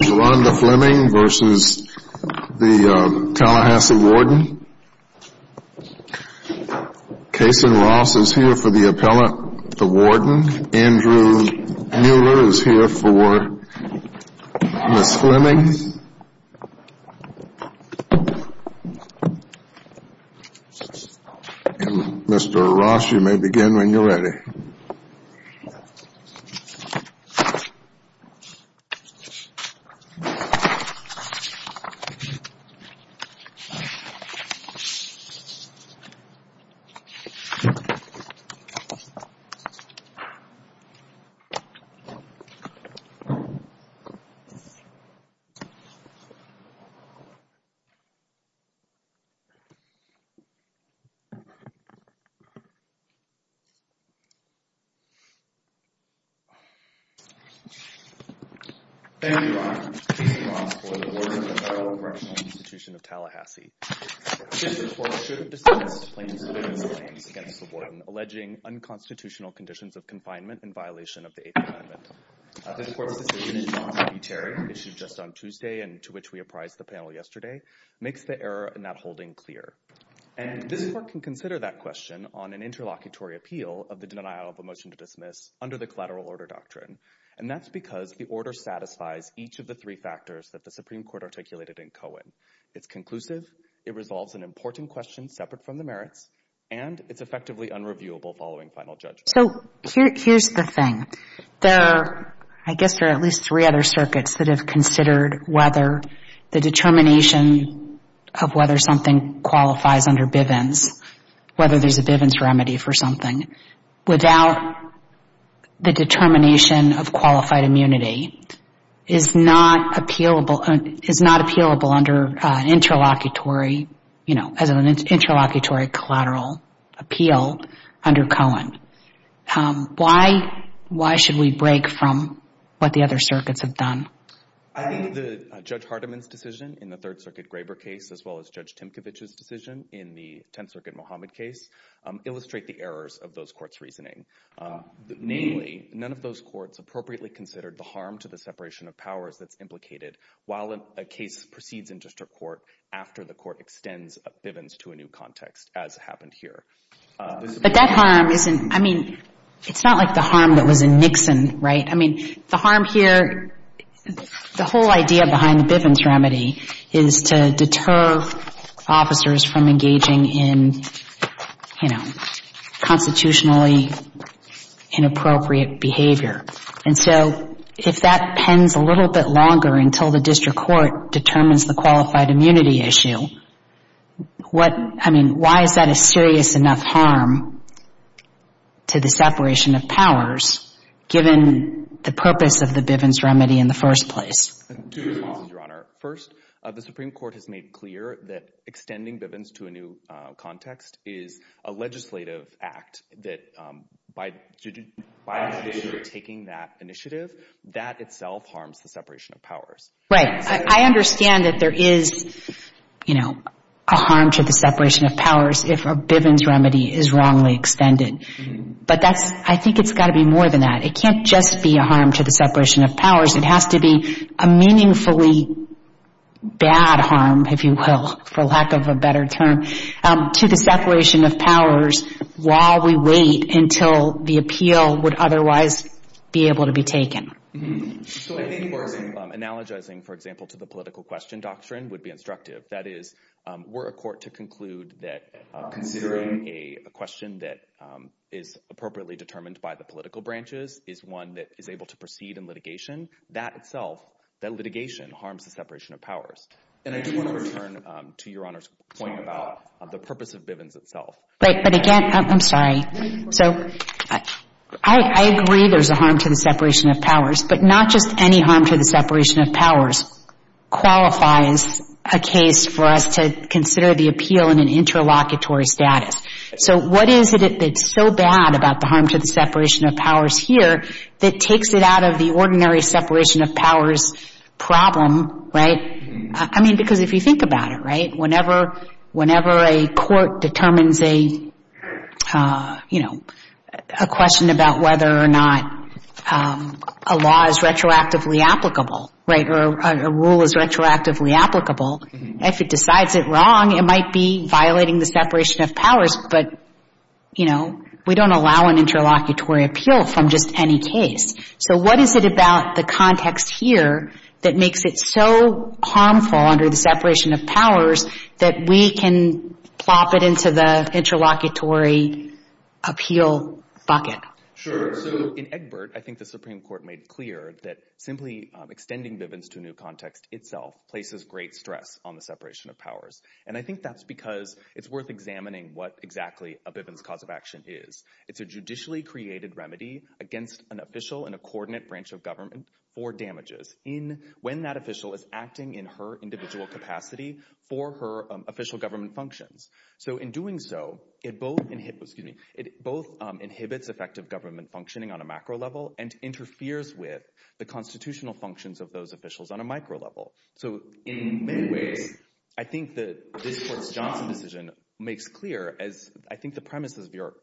Kaysen Ross is here for the appellant, the warden. Andrew Mueller is here for Ms. Fleming. And Mr. Ross, you may begin when you're ready. Thank you. Thank you, Mr. Ross, for the work of the Federal Commercial Institution of Tallahassee. This report should have dismissed Fleming's claims against the warden alleging unconstitutional conditions of confinement in violation of the Eighth Amendment. The court's decision in John P. Terry, issued just on Tuesday and to which we apprised the panel yesterday, makes the error in that holding clear. And this court can consider that question on an interlocutory appeal of the denial of a motion to dismiss under the collateral order doctrine. And that's because the order satisfies each of the three factors that the Supreme Court articulated in Cohen. It's conclusive, it resolves an important question separate from the merits, and it's effectively unreviewable following final judgment. So here's the thing. There are, I guess there are at least three other circuits that have considered whether the determination of whether something qualifies under Bivens, whether there's a Bivens remedy for something, without the determination of qualified immunity, is not appealable under interlocutory, you know, as an interlocutory collateral appeal under Cohen. Why should we break from what the other circuits have done? I think that Judge Hardiman's decision in the Third Circuit Graber case, as well as Judge Timkovich's decision in the Tenth Circuit Mohammed case, illustrate the errors of those courts' reasoning. Namely, none of those courts appropriately considered the harm to the separation of powers that's implicated while a case proceeds in district court after the court extends Bivens to a new context, as happened here. But that harm isn't, I mean, it's not like the harm that was in Nixon, right? I mean, the harm here, the whole idea behind the Bivens remedy is to deter officers from engaging in, you know, constitutionally inappropriate behavior. And so if that pens a little bit longer until the district court determines the qualified immunity issue, what, I mean, why is that a serious enough harm to the separation of powers, given the purpose of the Bivens remedy in the first place? Two things, Your Honor. First, the Supreme Court has made clear that extending Bivens to a new context is a legislative act, that by taking that initiative, that itself harms the separation of powers. Right. I understand that there is, you know, a harm to the separation of powers if a Bivens remedy is wrongly extended. But that's, I think it's got to be more than that. It can't just be a harm to the separation of powers. It has to be a meaningfully bad harm, if you will, for lack of a better term, to the separation of powers while we wait until the appeal would otherwise be able to be taken. So I think you are analogizing, for example, to the political question doctrine would be instructive. That is, were a court to conclude that considering a question that is appropriately determined by the political branches is one that is able to proceed in litigation, that itself, that litigation harms the separation of powers. And I do want to return to Your Honor's point about the purpose of Bivens itself. But again, I'm sorry. So I agree there's a harm to the separation of powers. But not just any harm to the separation of powers qualifies a case for us to consider the appeal in an interlocutory status. So what is it that's so bad about the harm to the separation of powers here that takes it out of the ordinary separation of powers problem, right? I mean, because if you think about it, right, whenever a court determines a, you know, a question about whether or not a law is retroactively applicable, right, or a rule is retroactively applicable, if it decides it wrong, it might be violating the separation of powers. But, you know, we don't allow an interlocutory appeal from just any case. So what is it about the context here that makes it so harmful under the separation of powers that we can plop it into the interlocutory appeal bucket? Sure. So in Egbert, I think the Supreme Court made clear that simply extending Bivens to a new context itself places great stress on the separation of powers. And I think that's because it's worth examining what exactly a Bivens cause of action is. It's a judicially created remedy against an official in a coordinate branch of government for damages when that official is acting in her individual capacity for her official government functions. So in doing so, it both inhibits effective government functioning on a macro level and interferes with the constitutional functions of those officials on a micro level. So in many ways, I think that this Court's Johnson decision makes clear, as I think the premises of Your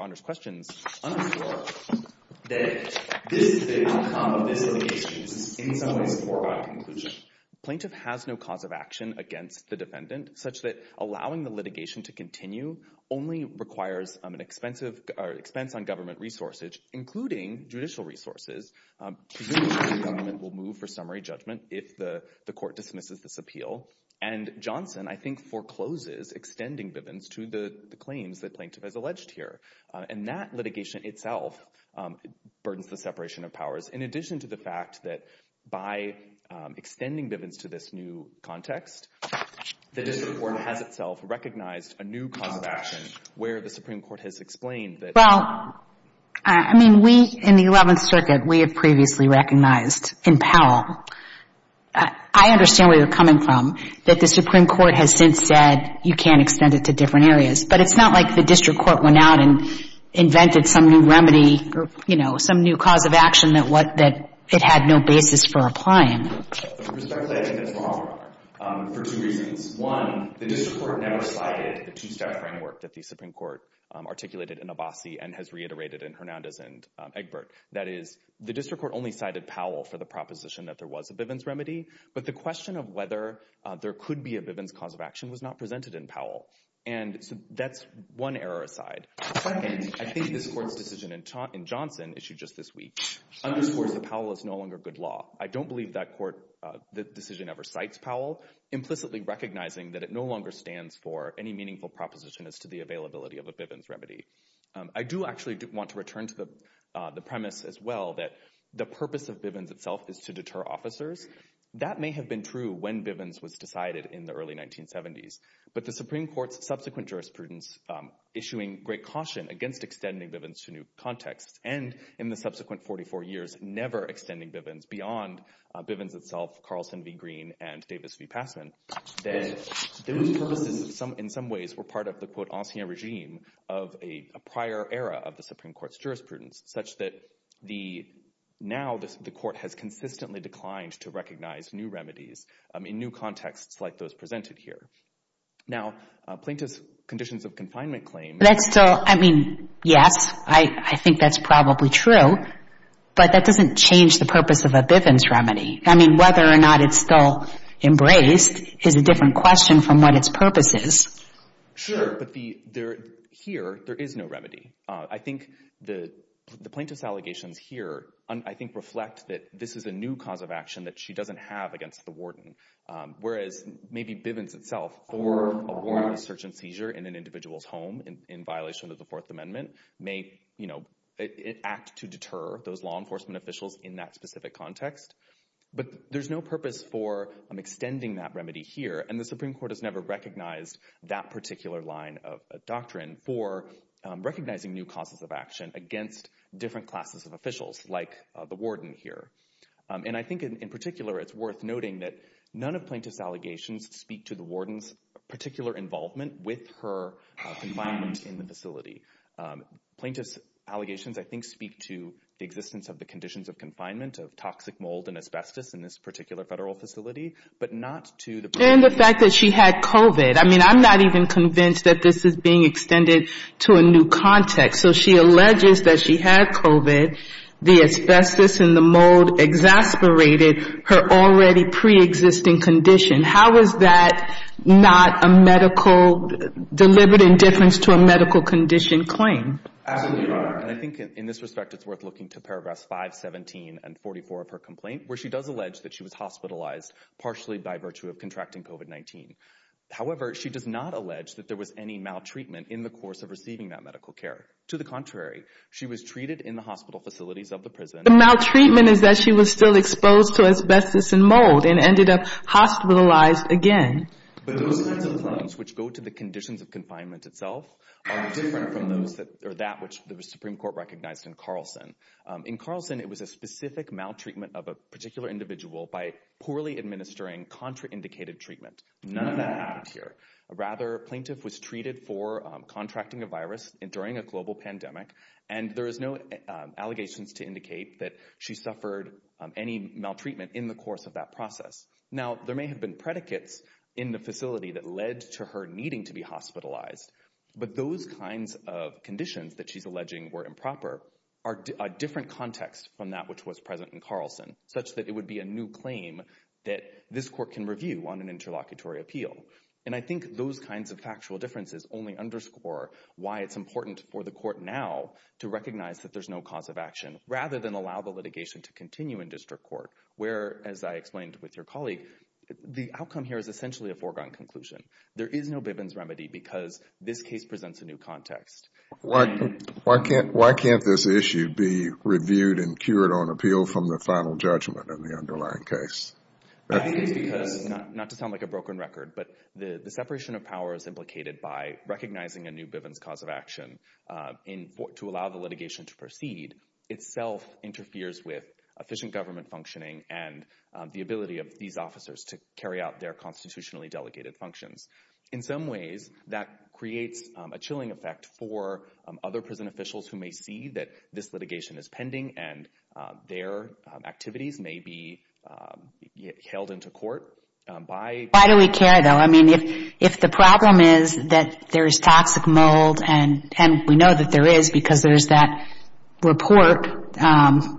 Honor's questions underscore, that this is the outcome of this litigation. This is in some ways a foregone conclusion. Plaintiff has no cause of action against the defendant, such that allowing the litigation to continue only requires an expense on government resources, including judicial resources. Presumably, the government will move for summary judgment if the Court dismisses this appeal. And Johnson, I think, forecloses extending Bivens to the claims that Plaintiff has alleged here. And that litigation itself burdens the separation of powers, in addition to the fact that by extending Bivens to this new context, the district court has itself recognized a new cause of action where the Supreme Court has explained that Well, I mean, we, in the Eleventh Circuit, we have previously recognized in Powell, I understand where you're coming from, that the Supreme Court has since said, you can't extend it to different areas. But it's not like the district court went out and invented some new remedy, you know, some new cause of action that it had no basis for applying. Respectfully, I think that's wrong, Your Honor, for two reasons. One, the district court never cited the two-step framework that the Supreme Court articulated in Abbasi and has reiterated in Hernandez and Egbert. That is, the district court only cited Powell for the proposition that there was a Bivens remedy, but the question of whether there could be a Bivens cause of action was not presented in Powell. And so that's one error aside. Second, I think this Court's decision in Johnson, issued just this week, underscores that Powell is no longer good law. I don't believe that Court decision ever cites Powell, implicitly recognizing that it no longer stands for any meaningful proposition as to the availability of a Bivens remedy. I do actually want to return to the premise as well that the purpose of Bivens itself is to deter officers. That may have been true when Bivens was decided in the early 1970s, but the Supreme Court's subsequent jurisprudence issuing great caution against extending Bivens to new contexts and, in the subsequent 44 years, never extending Bivens beyond Bivens itself, Carlson v. Green, and Davis v. Passman, that those purposes in some ways were part of the, quote, ancien regime of a prior era of the Supreme Court's jurisprudence, such that now the Court has consistently declined to recognize new remedies in new contexts like those presented here. Now, plaintiff's conditions of confinement claim— That's still—I mean, yes, I think that's probably true, but that doesn't change the purpose of a Bivens remedy. I mean, whether or not it's still embraced is a different question from what its purpose is. Sure, but the—here, there is no remedy. I think the plaintiff's allegations here, I think, reflect that this is a new cause of action that she doesn't have against the warden, whereas maybe Bivens itself, for a warrant of search and seizure in an individual's home in violation of the Fourth Amendment, may, you know, act to deter those law enforcement officials in that specific context. But there's no purpose for extending that remedy here, and the Supreme Court has never recognized that particular line of doctrine for recognizing new causes of action against different classes of officials like the warden here. And I think, in particular, it's worth noting that none of plaintiff's allegations speak to the warden's particular involvement with her confinement in the facility. Plaintiff's allegations, I think, speak to the existence of the conditions of confinement, of toxic mold and asbestos in this particular Federal facility, but not to the— And the fact that she had COVID. I mean, I'm not even convinced that this is being extended to a new context. So she alleges that she had COVID, the asbestos and the mold exasperated her already preexisting condition. How is that not a medical—delivered in difference to a medical condition claim? Absolutely, Your Honor. And I think, in this respect, it's worth looking to paragraphs 5, 17, and 44 of her complaint, where she does allege that she was hospitalized partially by virtue of contracting COVID-19. However, she does not allege that there was any maltreatment in the course of receiving that medical care. To the contrary, she was treated in the hospital facilities of the prison— The maltreatment is that she was still exposed to asbestos and mold and ended up hospitalized again. But those kinds of claims, which go to the conditions of confinement itself, are different from that which the Supreme Court recognized in Carlson. In Carlson, it was a specific maltreatment of a particular individual by poorly administering contraindicated treatment. None of that happened here. Rather, a plaintiff was treated for contracting a virus during a global pandemic, and there is no allegations to indicate that she suffered any maltreatment in the course of that process. Now, there may have been predicates in the facility that led to her needing to be hospitalized, but those kinds of conditions that she's alleging were improper are a different context from that which was present in Carlson, such that it would be a new claim that this court can review on an interlocutory appeal. And I think those kinds of factual differences only underscore why it's important for the court now to recognize that there's no cause of action, rather than allow the litigation to continue in district court, where, as I explained with your colleague, the outcome here is essentially a foregone conclusion. There is no Bibbins remedy because this case presents a new context. Why can't this issue be reviewed and cured on appeal from the final judgment in the underlying case? I think it's because, not to sound like a broken record, but the separation of power is implicated by recognizing a new Bibbins cause of action. To allow the litigation to proceed itself interferes with efficient government functioning and the ability of these officers to carry out their constitutionally delegated functions. In some ways, that creates a chilling effect for other prison officials who may see that this litigation is pending and their activities may be hailed into court by— Why do we care, though? I mean, if the problem is that there's toxic mold, and we know that there is because there's that report,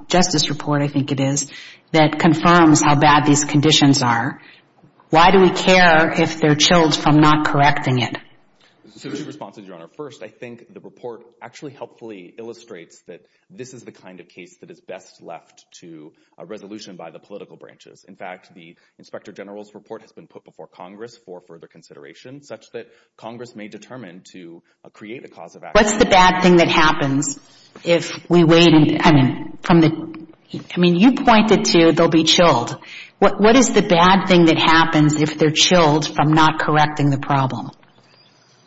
justice report, I think it is, that confirms how bad these conditions are, why do we care if they're chilled from not correcting it? There are two responses, Your Honor. First, I think the report actually helpfully illustrates that this is the kind of case that is best left to a resolution by the political branches. In fact, the Inspector General's report has been put before Congress for further consideration, such that Congress may determine to create a cause of action. What's the bad thing that happens if we wait? I mean, you pointed to they'll be chilled. What is the bad thing that happens if they're chilled from not correcting the problem?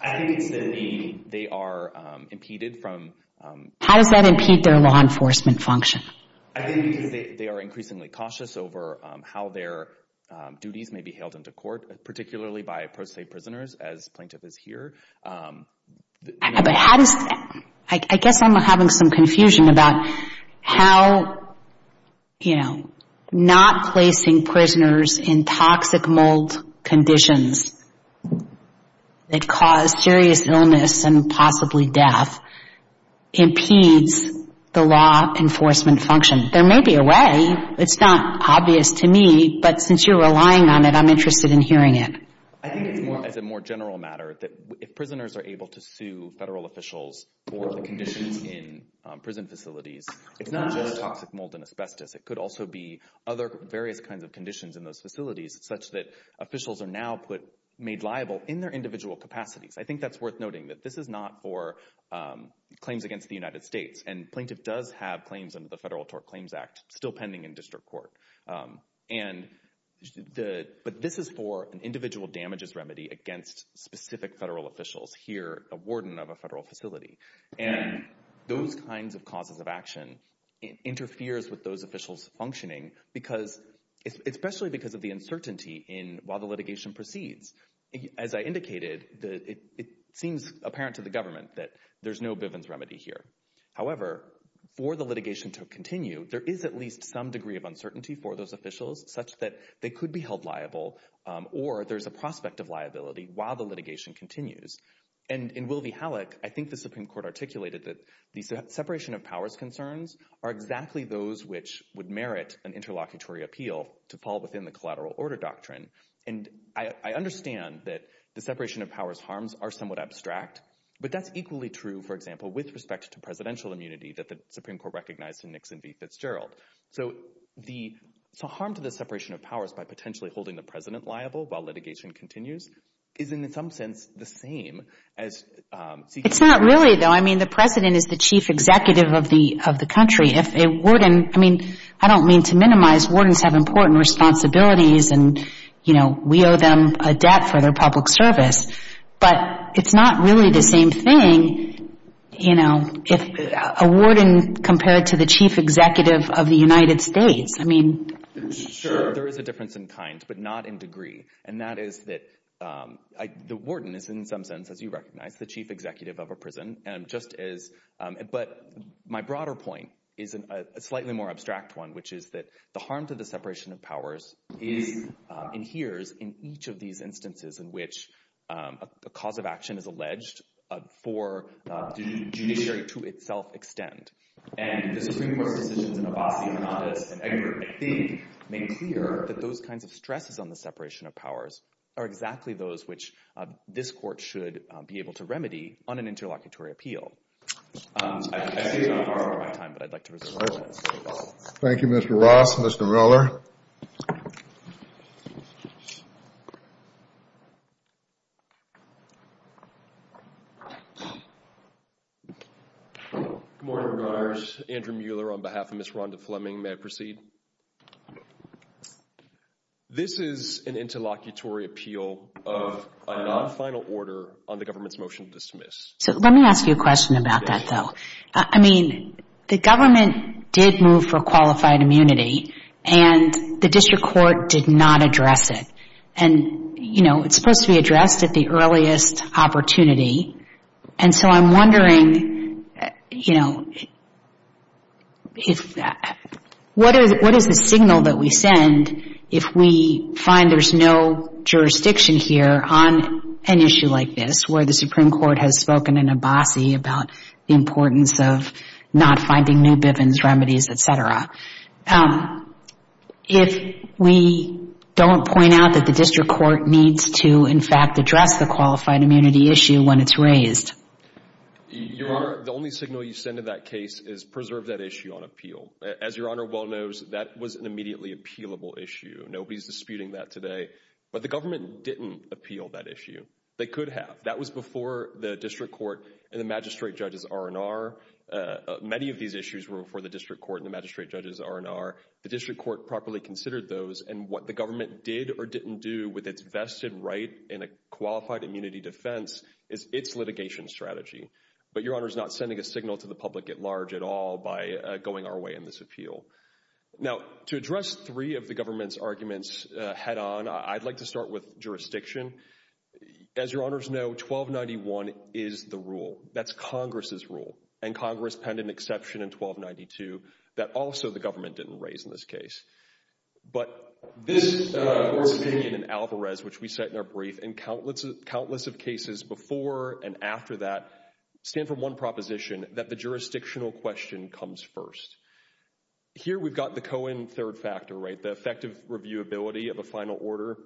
I think it's that they are impeded from— How does that impede their law enforcement function? I think because they are increasingly cautious over how their duties may be hailed into court, particularly by pro se prisoners, as Plaintiff is here. But how does—I guess I'm having some confusion about how, you know, not placing prisoners in toxic mold conditions that cause serious illness and possibly death impedes the law enforcement function. There may be a way. It's not obvious to me, but since you're relying on it, I'm interested in hearing it. I think it's more as a more general matter that if prisoners are able to sue federal officials for the conditions in prison facilities, it's not just toxic mold and asbestos. It could also be other various kinds of conditions in those facilities, such that officials are now made liable in their individual capacities. I think that's worth noting that this is not for claims against the United States, and Plaintiff does have claims under the Federal Tort Claims Act still pending in district court. But this is for an individual damages remedy against specific federal officials, here a warden of a federal facility. And those kinds of causes of action interferes with those officials' functioning, especially because of the uncertainty while the litigation proceeds. As I indicated, it seems apparent to the government that there's no Bivens remedy here. However, for the litigation to continue, there is at least some degree of uncertainty for those officials, such that they could be held liable or there's a prospect of liability while the litigation continues. And in Will v. Halleck, I think the Supreme Court articulated that the separation of powers concerns are exactly those which would merit an interlocutory appeal to fall within the collateral order doctrine. And I understand that the separation of powers harms are somewhat abstract, but that's equally true, for example, with respect to presidential immunity that the Supreme Court recognized in Nixon v. Fitzgerald. So harm to the separation of powers by potentially holding the president liable while litigation continues is in some sense the same as seeking— It's not really, though. I mean, the president is the chief executive of the country. If a warden—I mean, I don't mean to minimize—wardens have important responsibilities and, you know, we owe them a debt for their public service. But it's not really the same thing, you know, if a warden compared to the chief executive of the United States. I mean— Sure, there is a difference in kind, but not in degree. And that is that the warden is in some sense, as you recognize, the chief executive of a prison. But my broader point is a slightly more abstract one, which is that the harm to the separation of powers adheres in each of these instances in which a cause of action is alleged for judiciary to itself extend. And the Supreme Court's decisions in Abbasi, Hernandez, and Egbert, I think, make clear that those kinds of stresses on the separation of powers are exactly those which this Court should be able to remedy on an interlocutory appeal. Thank you. Thank you, Mr. Ross. Mr. Mueller. Good morning, Regulars. Andrew Mueller on behalf of Ms. Rhonda Fleming. May I proceed? This is an interlocutory appeal of a non-final order on the government's motion to dismiss. So let me ask you a question about that, though. I mean, the government did move for qualified immunity, and the district court did not address it. And, you know, it's supposed to be addressed at the earliest opportunity. And so I'm wondering, you know, what is the signal that we send if we find there's no jurisdiction here on an issue like this where the Supreme Court has spoken in Abbasi about the importance of not finding new Bivens remedies, et cetera, if we don't point out that the district court needs to, in fact, address the qualified immunity issue when it's raised? Your Honor, the only signal you send in that case is preserve that issue on appeal. As Your Honor well knows, that was an immediately appealable issue. Nobody's disputing that today. But the government didn't appeal that issue. They could have. That was before the district court and the magistrate judges' R&R. Many of these issues were before the district court and the magistrate judges' R&R. The district court properly considered those, and what the government did or didn't do with its vested right in a qualified immunity defense is its litigation strategy. But Your Honor's not sending a signal to the public at large at all by going our way in this appeal. Now, to address three of the government's arguments head-on, I'd like to start with jurisdiction. As Your Honors know, 1291 is the rule. That's Congress' rule, and Congress penned an exception in 1292 that also the government didn't raise in this case. But this Court's opinion in Alvarez, which we cite in our brief, and countless of cases before and after that stand for one proposition, that the jurisdictional question comes first. Here we've got the Cohen third factor, right, the effective reviewability of a final order.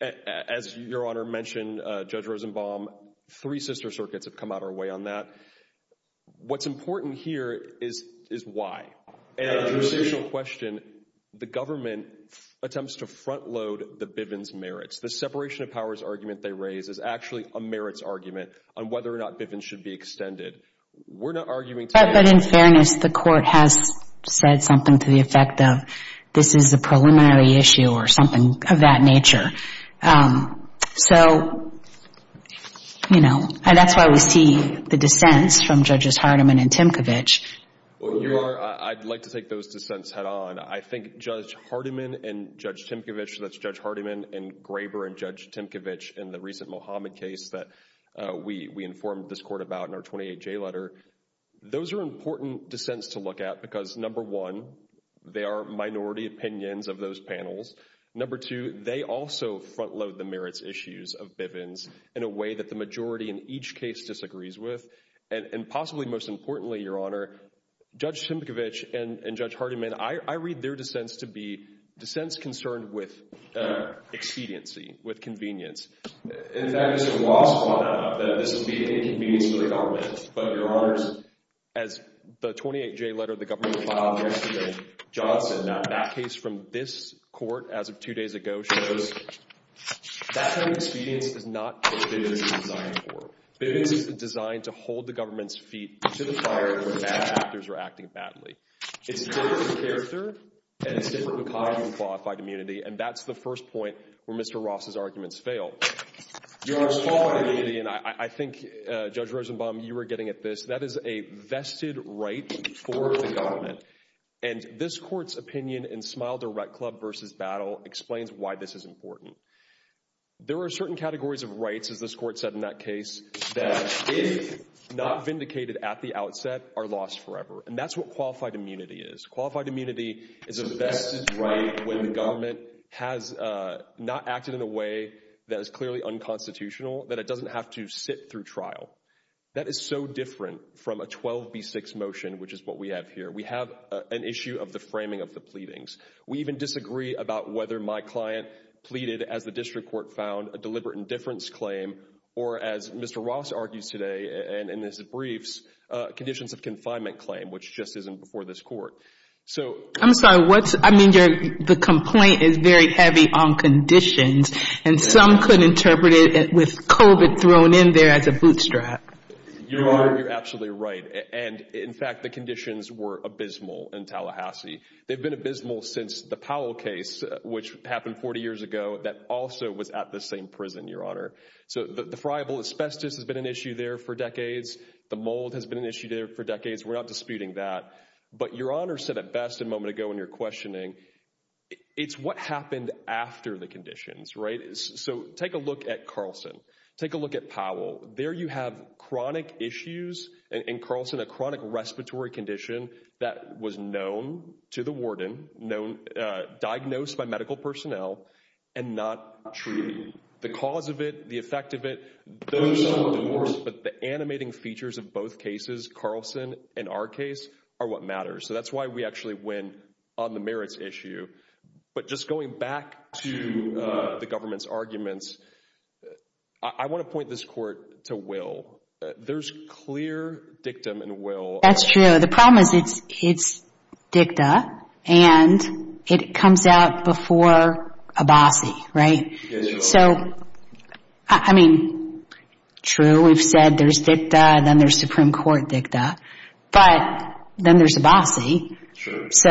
As Your Honor mentioned, Judge Rosenbaum, three sister circuits have come out of our way on that. What's important here is why. In a jurisdictional question, the government attempts to front-load the Bivens merits. The separation of powers argument they raise is actually a merits argument on whether or not Bivens should be extended. We're not arguing today. But in fairness, the Court has said something to the effect of this is a preliminary issue or something of that nature. So, you know, that's why we see the dissents from Judges Hardiman and Timkovich. Your Honor, I'd like to take those dissents head-on. I think Judge Hardiman and Judge Timkovich, that's Judge Hardiman and Graber and Judge Timkovich in the recent Mohammed case that we informed this Court about in our 28J letter, those are important dissents to look at because, number one, they are minority opinions of those panels. Number two, they also front-load the merits issues of Bivens in a way that the majority in each case disagrees with. And possibly most importantly, Your Honor, Judge Timkovich and Judge Hardiman, I read their dissents to be dissents concerned with expediency, with convenience. In fact, Mr. Ross found out that this would be an inconvenience for the government. But, Your Honor, as the 28J letter the government filed yesterday, Johnson, that case from this Court as of two days ago, shows that kind of expedience is not what Bivens is designed for. Bivens is designed to hold the government's feet to the fire when bad actors are acting badly. It's different in character and it's different because of the qualified immunity. And that's the first point where Mr. Ross' arguments fail. Your Honor's qualified immunity, and I think, Judge Rosenbaum, you were getting at this, that is a vested right for the government. And this Court's opinion in Smile Direct Club v. Battle explains why this is important. There are certain categories of rights, as this Court said in that case, that if not vindicated at the outset, are lost forever. And that's what qualified immunity is. Qualified immunity is a vested right when the government has not acted in a way that is clearly unconstitutional, that it doesn't have to sit through trial. That is so different from a 12B6 motion, which is what we have here. We have an issue of the framing of the pleadings. We even disagree about whether my client pleaded, as the District Court found, a deliberate indifference claim, or as Mr. Ross argues today in his briefs, a conditions of confinement claim, which just isn't before this Court. I'm sorry. I mean, the complaint is very heavy on conditions, and some could interpret it with COVID thrown in there as a bootstrap. Your Honor, you're absolutely right. And, in fact, the conditions were abysmal in Tallahassee. They've been abysmal since the Powell case, which happened 40 years ago, that also was at the same prison, Your Honor. So the friable asbestos has been an issue there for decades. The mold has been an issue there for decades. We're not disputing that. But Your Honor said it best a moment ago in your questioning, it's what happened after the conditions, right? So take a look at Carlson. Take a look at Powell. There you have chronic issues in Carlson, a chronic respiratory condition that was known to the warden, diagnosed by medical personnel, and not treated. The cause of it, the effect of it, those are the words. But the animating features of both cases, Carlson and our case, are what matters. So that's why we actually went on the merits issue. But just going back to the government's arguments, I want to point this court to Will. There's clear dictum in Will. That's true. The problem is it's dicta, and it comes out before a bossy, right? Yes, Your Honor. So, I mean, true, we've said there's dicta, and then there's Supreme Court dicta. But then there's a bossy. True. So,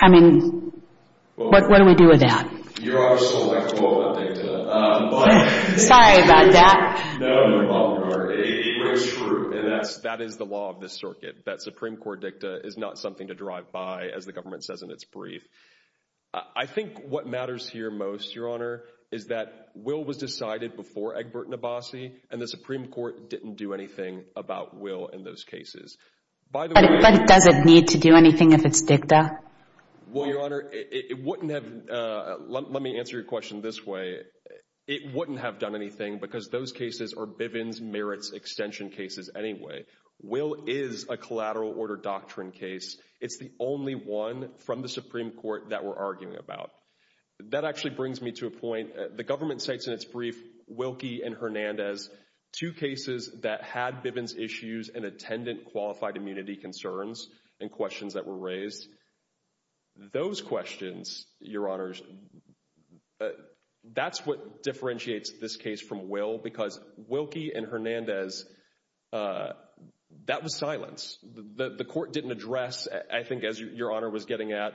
I mean, what do we do with that? Your Honor is so electable about dicta. Sorry about that. No, no, Your Honor. It is true, and that is the law of this circuit, that Supreme Court dicta is not something to drive by, as the government says in its brief. I think what matters here most, Your Honor, is that Will was decided before Egbert and Abassi, and the Supreme Court didn't do anything about Will in those cases. But does it need to do anything if it's dicta? Well, Your Honor, it wouldn't have—let me answer your question this way. It wouldn't have done anything because those cases are Bivens, merits, extension cases anyway. Will is a collateral order doctrine case. It's the only one from the Supreme Court that we're arguing about. That actually brings me to a point. The government cites in its brief Wilkie and Hernandez, two cases that had Bivens issues and attendant qualified immunity concerns and questions that were raised. Those questions, Your Honors, that's what differentiates this case from Will, because Wilkie and Hernandez, that was silence. The court didn't address, I think as Your Honor was getting at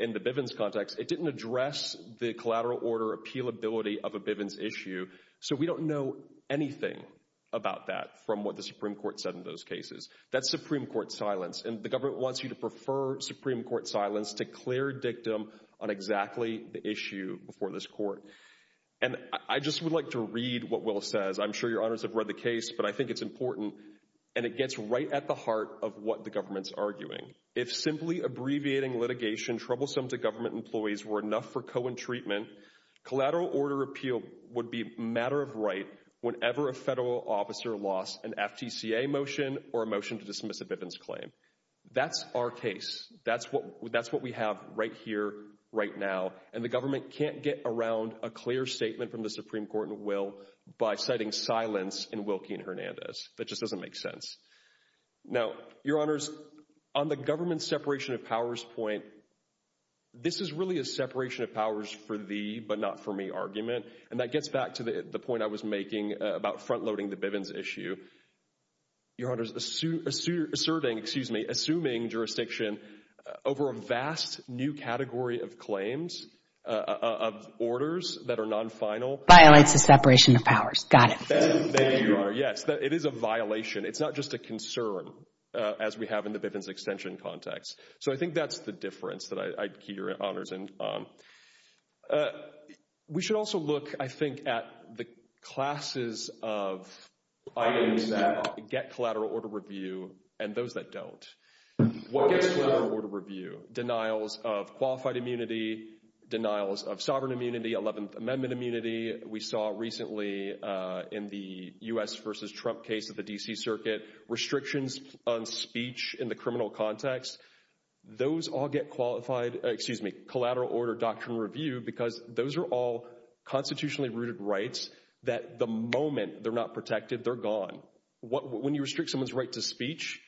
in the Bivens context, it didn't address the collateral order appealability of a Bivens issue. So we don't know anything about that from what the Supreme Court said in those cases. That's Supreme Court silence, and the government wants you to prefer Supreme Court silence to clear dictum on exactly the issue before this court. And I just would like to read what Will says. I'm sure Your Honors have read the case, but I think it's important, and it gets right at the heart of what the government's arguing. If simply abbreviating litigation troublesome to government employees were enough for co-entreatment, collateral order appeal would be a matter of right whenever a federal officer lost an FTCA motion or a motion to dismiss a Bivens claim. That's our case. That's what we have right here, right now. And the government can't get around a clear statement from the Supreme Court and Will by citing silence in Wilkie and Hernandez. That just doesn't make sense. Now, Your Honors, on the government's separation of powers point, this is really a separation of powers for thee but not for me argument, and that gets back to the point I was making about front-loading the Bivens issue. Your Honors, asserting, excuse me, assuming jurisdiction over a vast new category of claims, of orders that are non-final violates the separation of powers. Got it. There you are. Yes, it is a violation. It's not just a concern as we have in the Bivens extension context. So I think that's the difference that I hear, Your Honors. We should also look, I think, at the classes of items that get collateral order review and those that don't. What gets collateral order review? Denials of qualified immunity, denials of sovereign immunity, 11th Amendment immunity. We saw recently in the U.S. versus Trump case of the D.C. Circuit, restrictions on speech in the criminal context. Those all get qualified, excuse me, collateral order doctrine review because those are all constitutionally rooted rights that the moment they're not protected, they're gone. When you restrict someone's right to speech,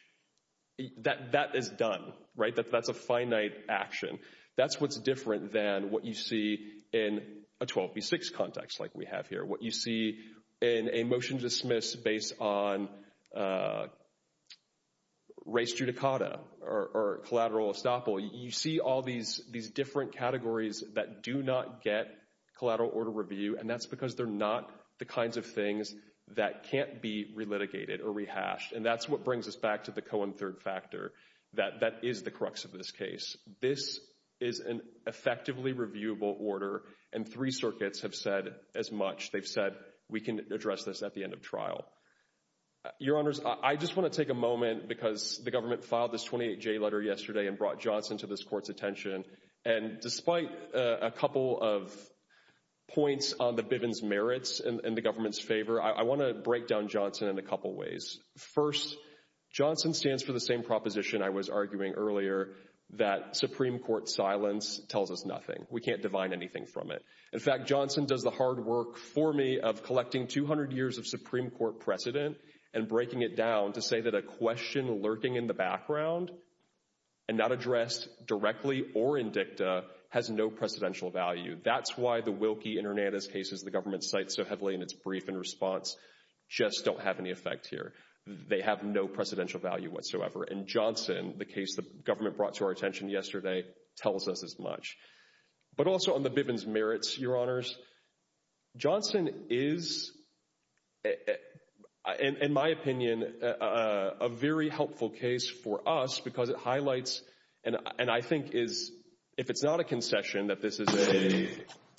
that is done, right? That's a finite action. That's what's different than what you see in a 12b6 context like we have here, what you see in a motion to dismiss based on race judicata or collateral estoppel. You see all these different categories that do not get collateral order review, and that's because they're not the kinds of things that can't be relitigated or rehashed. And that's what brings us back to the Cohen third factor, that that is the crux of this case. This is an effectively reviewable order, and three circuits have said as much. They've said we can address this at the end of trial. Your Honors, I just want to take a moment because the government filed this 28J letter yesterday and brought Johnson to this court's attention, and despite a couple of points on the Bivens' merits in the government's favor, I want to break down Johnson in a couple ways. First, Johnson stands for the same proposition I was arguing earlier, that Supreme Court silence tells us nothing. We can't divine anything from it. In fact, Johnson does the hard work for me of collecting 200 years of Supreme Court precedent and breaking it down to say that a question lurking in the background and not addressed directly or in dicta has no precedential value. That's why the Wilkie and Hernandez cases the government cites so heavily in its brief and response just don't have any effect here. They have no precedential value whatsoever. And Johnson, the case the government brought to our attention yesterday, tells us as much. But also on the Bivens' merits, Your Honors, Johnson is, in my opinion, a very helpful case for us because it highlights, and I think if it's not a concession that this is a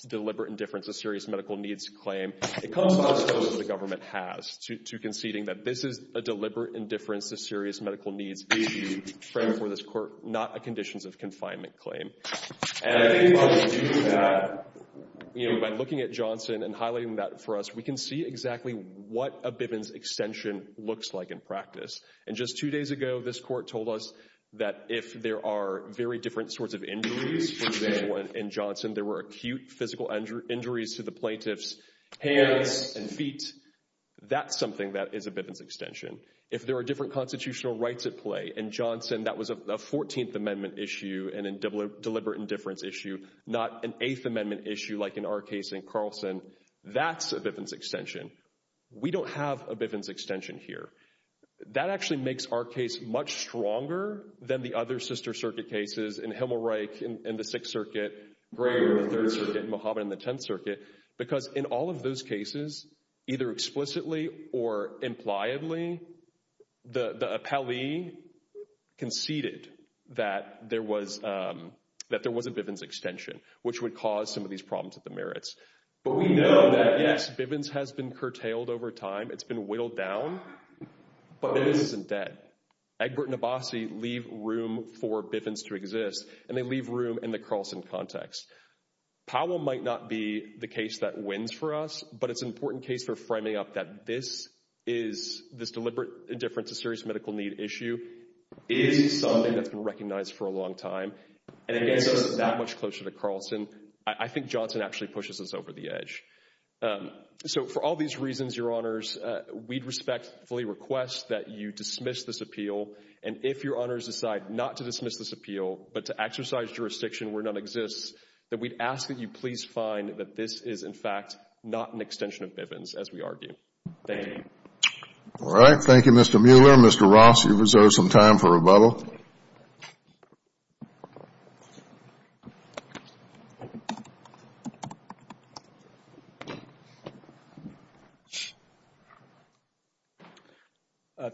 deliberate indifference to serious medical needs claim, it comes down to what the government has, to conceding that this is a deliberate indifference to serious medical needs being framed for this court, not a conditions of confinement claim. And I think by looking at Johnson and highlighting that for us, we can see exactly what a Bivens' extension looks like in practice. And just two days ago, this court told us that if there are very different sorts of injuries in Johnson, there were acute physical injuries to the plaintiff's hands and feet, that's something that is a Bivens' extension. If there are different constitutional rights at play in Johnson, that was a 14th Amendment issue and a deliberate indifference issue, not an 8th Amendment issue like in our case in Carlson. That's a Bivens' extension. We don't have a Bivens' extension here. That actually makes our case much stronger than the other sister circuit cases in Himmelreich in the 6th Circuit, Greger in the 3rd Circuit, and Mohammed in the 10th Circuit, because in all of those cases, either explicitly or impliedly, the appellee conceded that there was a Bivens' extension, which would cause some of these problems with the merits. But we know that, yes, Bivens' has been curtailed over time. It's been whittled down, but Bivens' isn't dead. Egbert and Abbasi leave room for Bivens' to exist, and they leave room in the Carlson context. Powell might not be the case that wins for us, but it's an important case for framing up that this deliberate indifference, a serious medical need issue, is something that's been recognized for a long time, and it gets us that much closer to Carlson. I think Johnson actually pushes us over the edge. So for all these reasons, Your Honors, we'd respectfully request that you dismiss this appeal, and if Your Honors decide not to dismiss this appeal, but to exercise jurisdiction where none exists, that we'd ask that you please find that this is, in fact, not an extension of Bivens', as we argue. Thank you. All right. Thank you, Mr. Mueller. Mr. Ross, you reserve some time for rebuttal.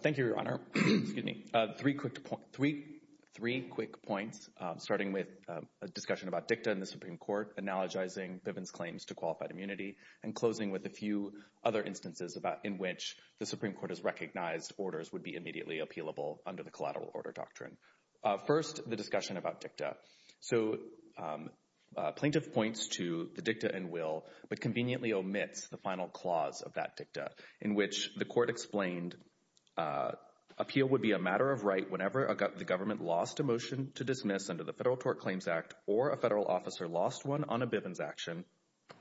Thank you, Your Honor. Three quick points, starting with a discussion about dicta in the Supreme Court, analogizing Bivens' claims to qualified immunity, and closing with a few other instances in which the Supreme Court has recognized orders would be immediately appealable under the collateral order doctrine. First, the discussion about dicta. So plaintiff points to the dicta and will, but conveniently omits the final clause of that dicta, in which the court explained appeal would be a matter of right whenever the government lost a motion to dismiss under the Federal Tort Claims Act, or a federal officer lost one on a Bivens' action,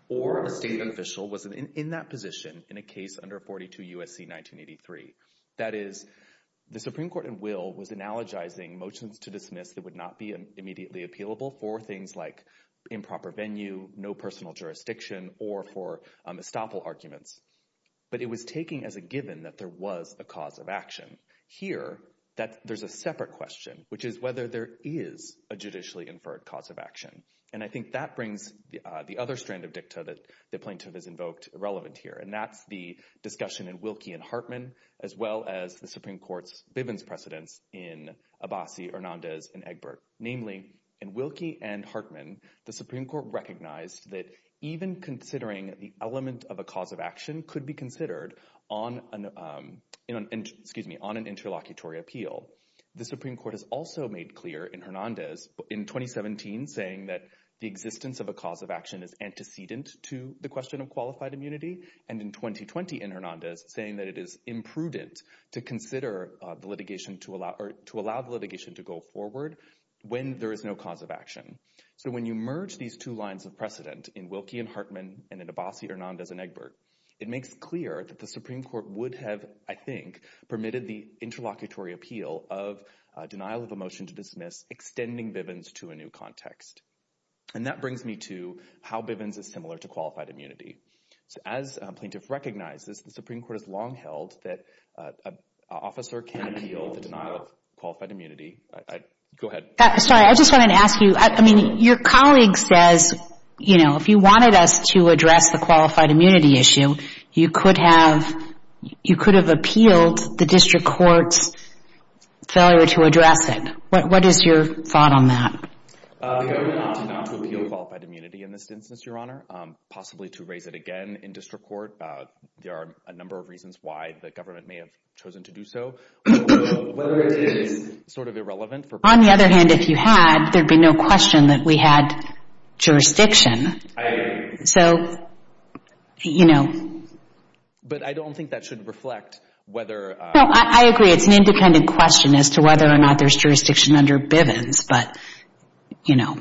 or a state official was in that position in a case under 42 U.S.C. 1983. That is, the Supreme Court in will was analogizing motions to dismiss that would not be immediately appealable for things like improper venue, no personal jurisdiction, or for estoppel arguments. But it was taking as a given that there was a cause of action. Here, there's a separate question, which is whether there is a judicially inferred cause of action. And I think that brings the other strand of dicta that the plaintiff has invoked irrelevant here, and that's the discussion in Wilkie and Hartman, as well as the Supreme Court's Bivens' precedence in Abbasi, Hernandez, and Egbert. Namely, in Wilkie and Hartman, the Supreme Court recognized that even considering the element of a cause of action could be considered on an interlocutory appeal. The Supreme Court has also made clear in Hernandez in 2017 saying that the existence of a cause of action is antecedent to the question of qualified immunity, and in 2020 in Hernandez saying that it is imprudent to consider the litigation to allow the litigation to go forward when there is no cause of action. So when you merge these two lines of precedent in Wilkie and Hartman and in Abbasi, Hernandez, and Egbert, it makes clear that the Supreme Court would have, I think, permitted the interlocutory appeal of denial of a motion to dismiss extending Bivens to a new context. And that brings me to how Bivens is similar to qualified immunity. As plaintiff recognizes, the Supreme Court has long held that an officer can appeal the denial of qualified immunity. Go ahead. Sorry, I just wanted to ask you, I mean, your colleague says, you know, if you wanted us to address the qualified immunity issue, you could have appealed the district court's failure to address it. What is your thought on that? The government opted not to appeal qualified immunity in this instance, Your Honor, possibly to raise it again in district court. There are a number of reasons why the government may have chosen to do so. Whether it is sort of irrelevant. On the other hand, if you had, there'd be no question that we had jurisdiction. I agree. So, you know. But I don't think that should reflect whether. No, I agree. It's an independent question as to whether or not there's jurisdiction under Bivens. But, you know.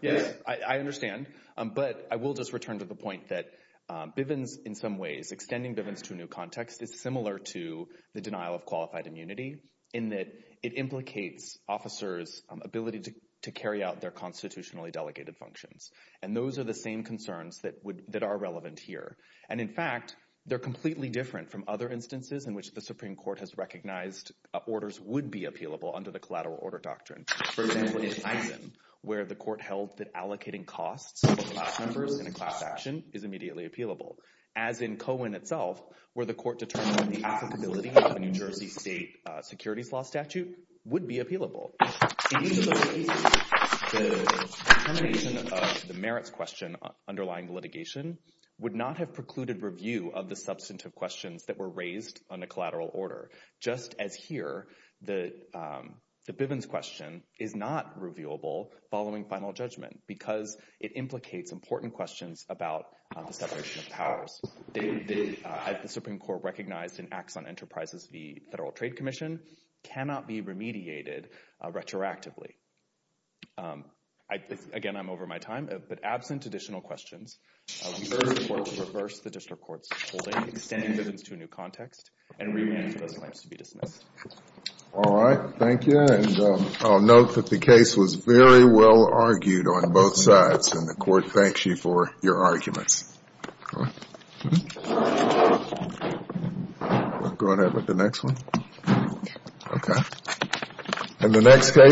Yes, I understand. But I will just return to the point that Bivens in some ways, extending Bivens to a new context is similar to the denial of qualified immunity in that it implicates officers' ability to carry out their constitutionally delegated functions. And those are the same concerns that are relevant here. And, in fact, they're completely different from other instances in which the Supreme Court has recognized orders would be appealable under the collateral order doctrine. For example, in Eisen, where the court held that allocating costs for class members in a class action is immediately appealable. As in Cohen itself, where the court determined that the applicability of a New Jersey state securities law statute would be appealable. In each of those cases, the determination of the merits question underlying litigation would not have precluded review of the substantive questions that were raised under collateral order. Just as here, the Bivens question is not reviewable following final judgment because it implicates important questions about the separation of powers. The Supreme Court recognized in Acts on Enterprises v. Federal Trade Commission cannot be remediated retroactively. Again, I'm over my time, but absent additional questions, we urge the court to reverse the district court's holding, extending Bivens to a new context, and re-manage those claims to be dismissed. All right. Thank you. And I'll note that the case was very well argued on both sides, and the court thanks you for your arguments. Go ahead with the next one. Okay. And the next case.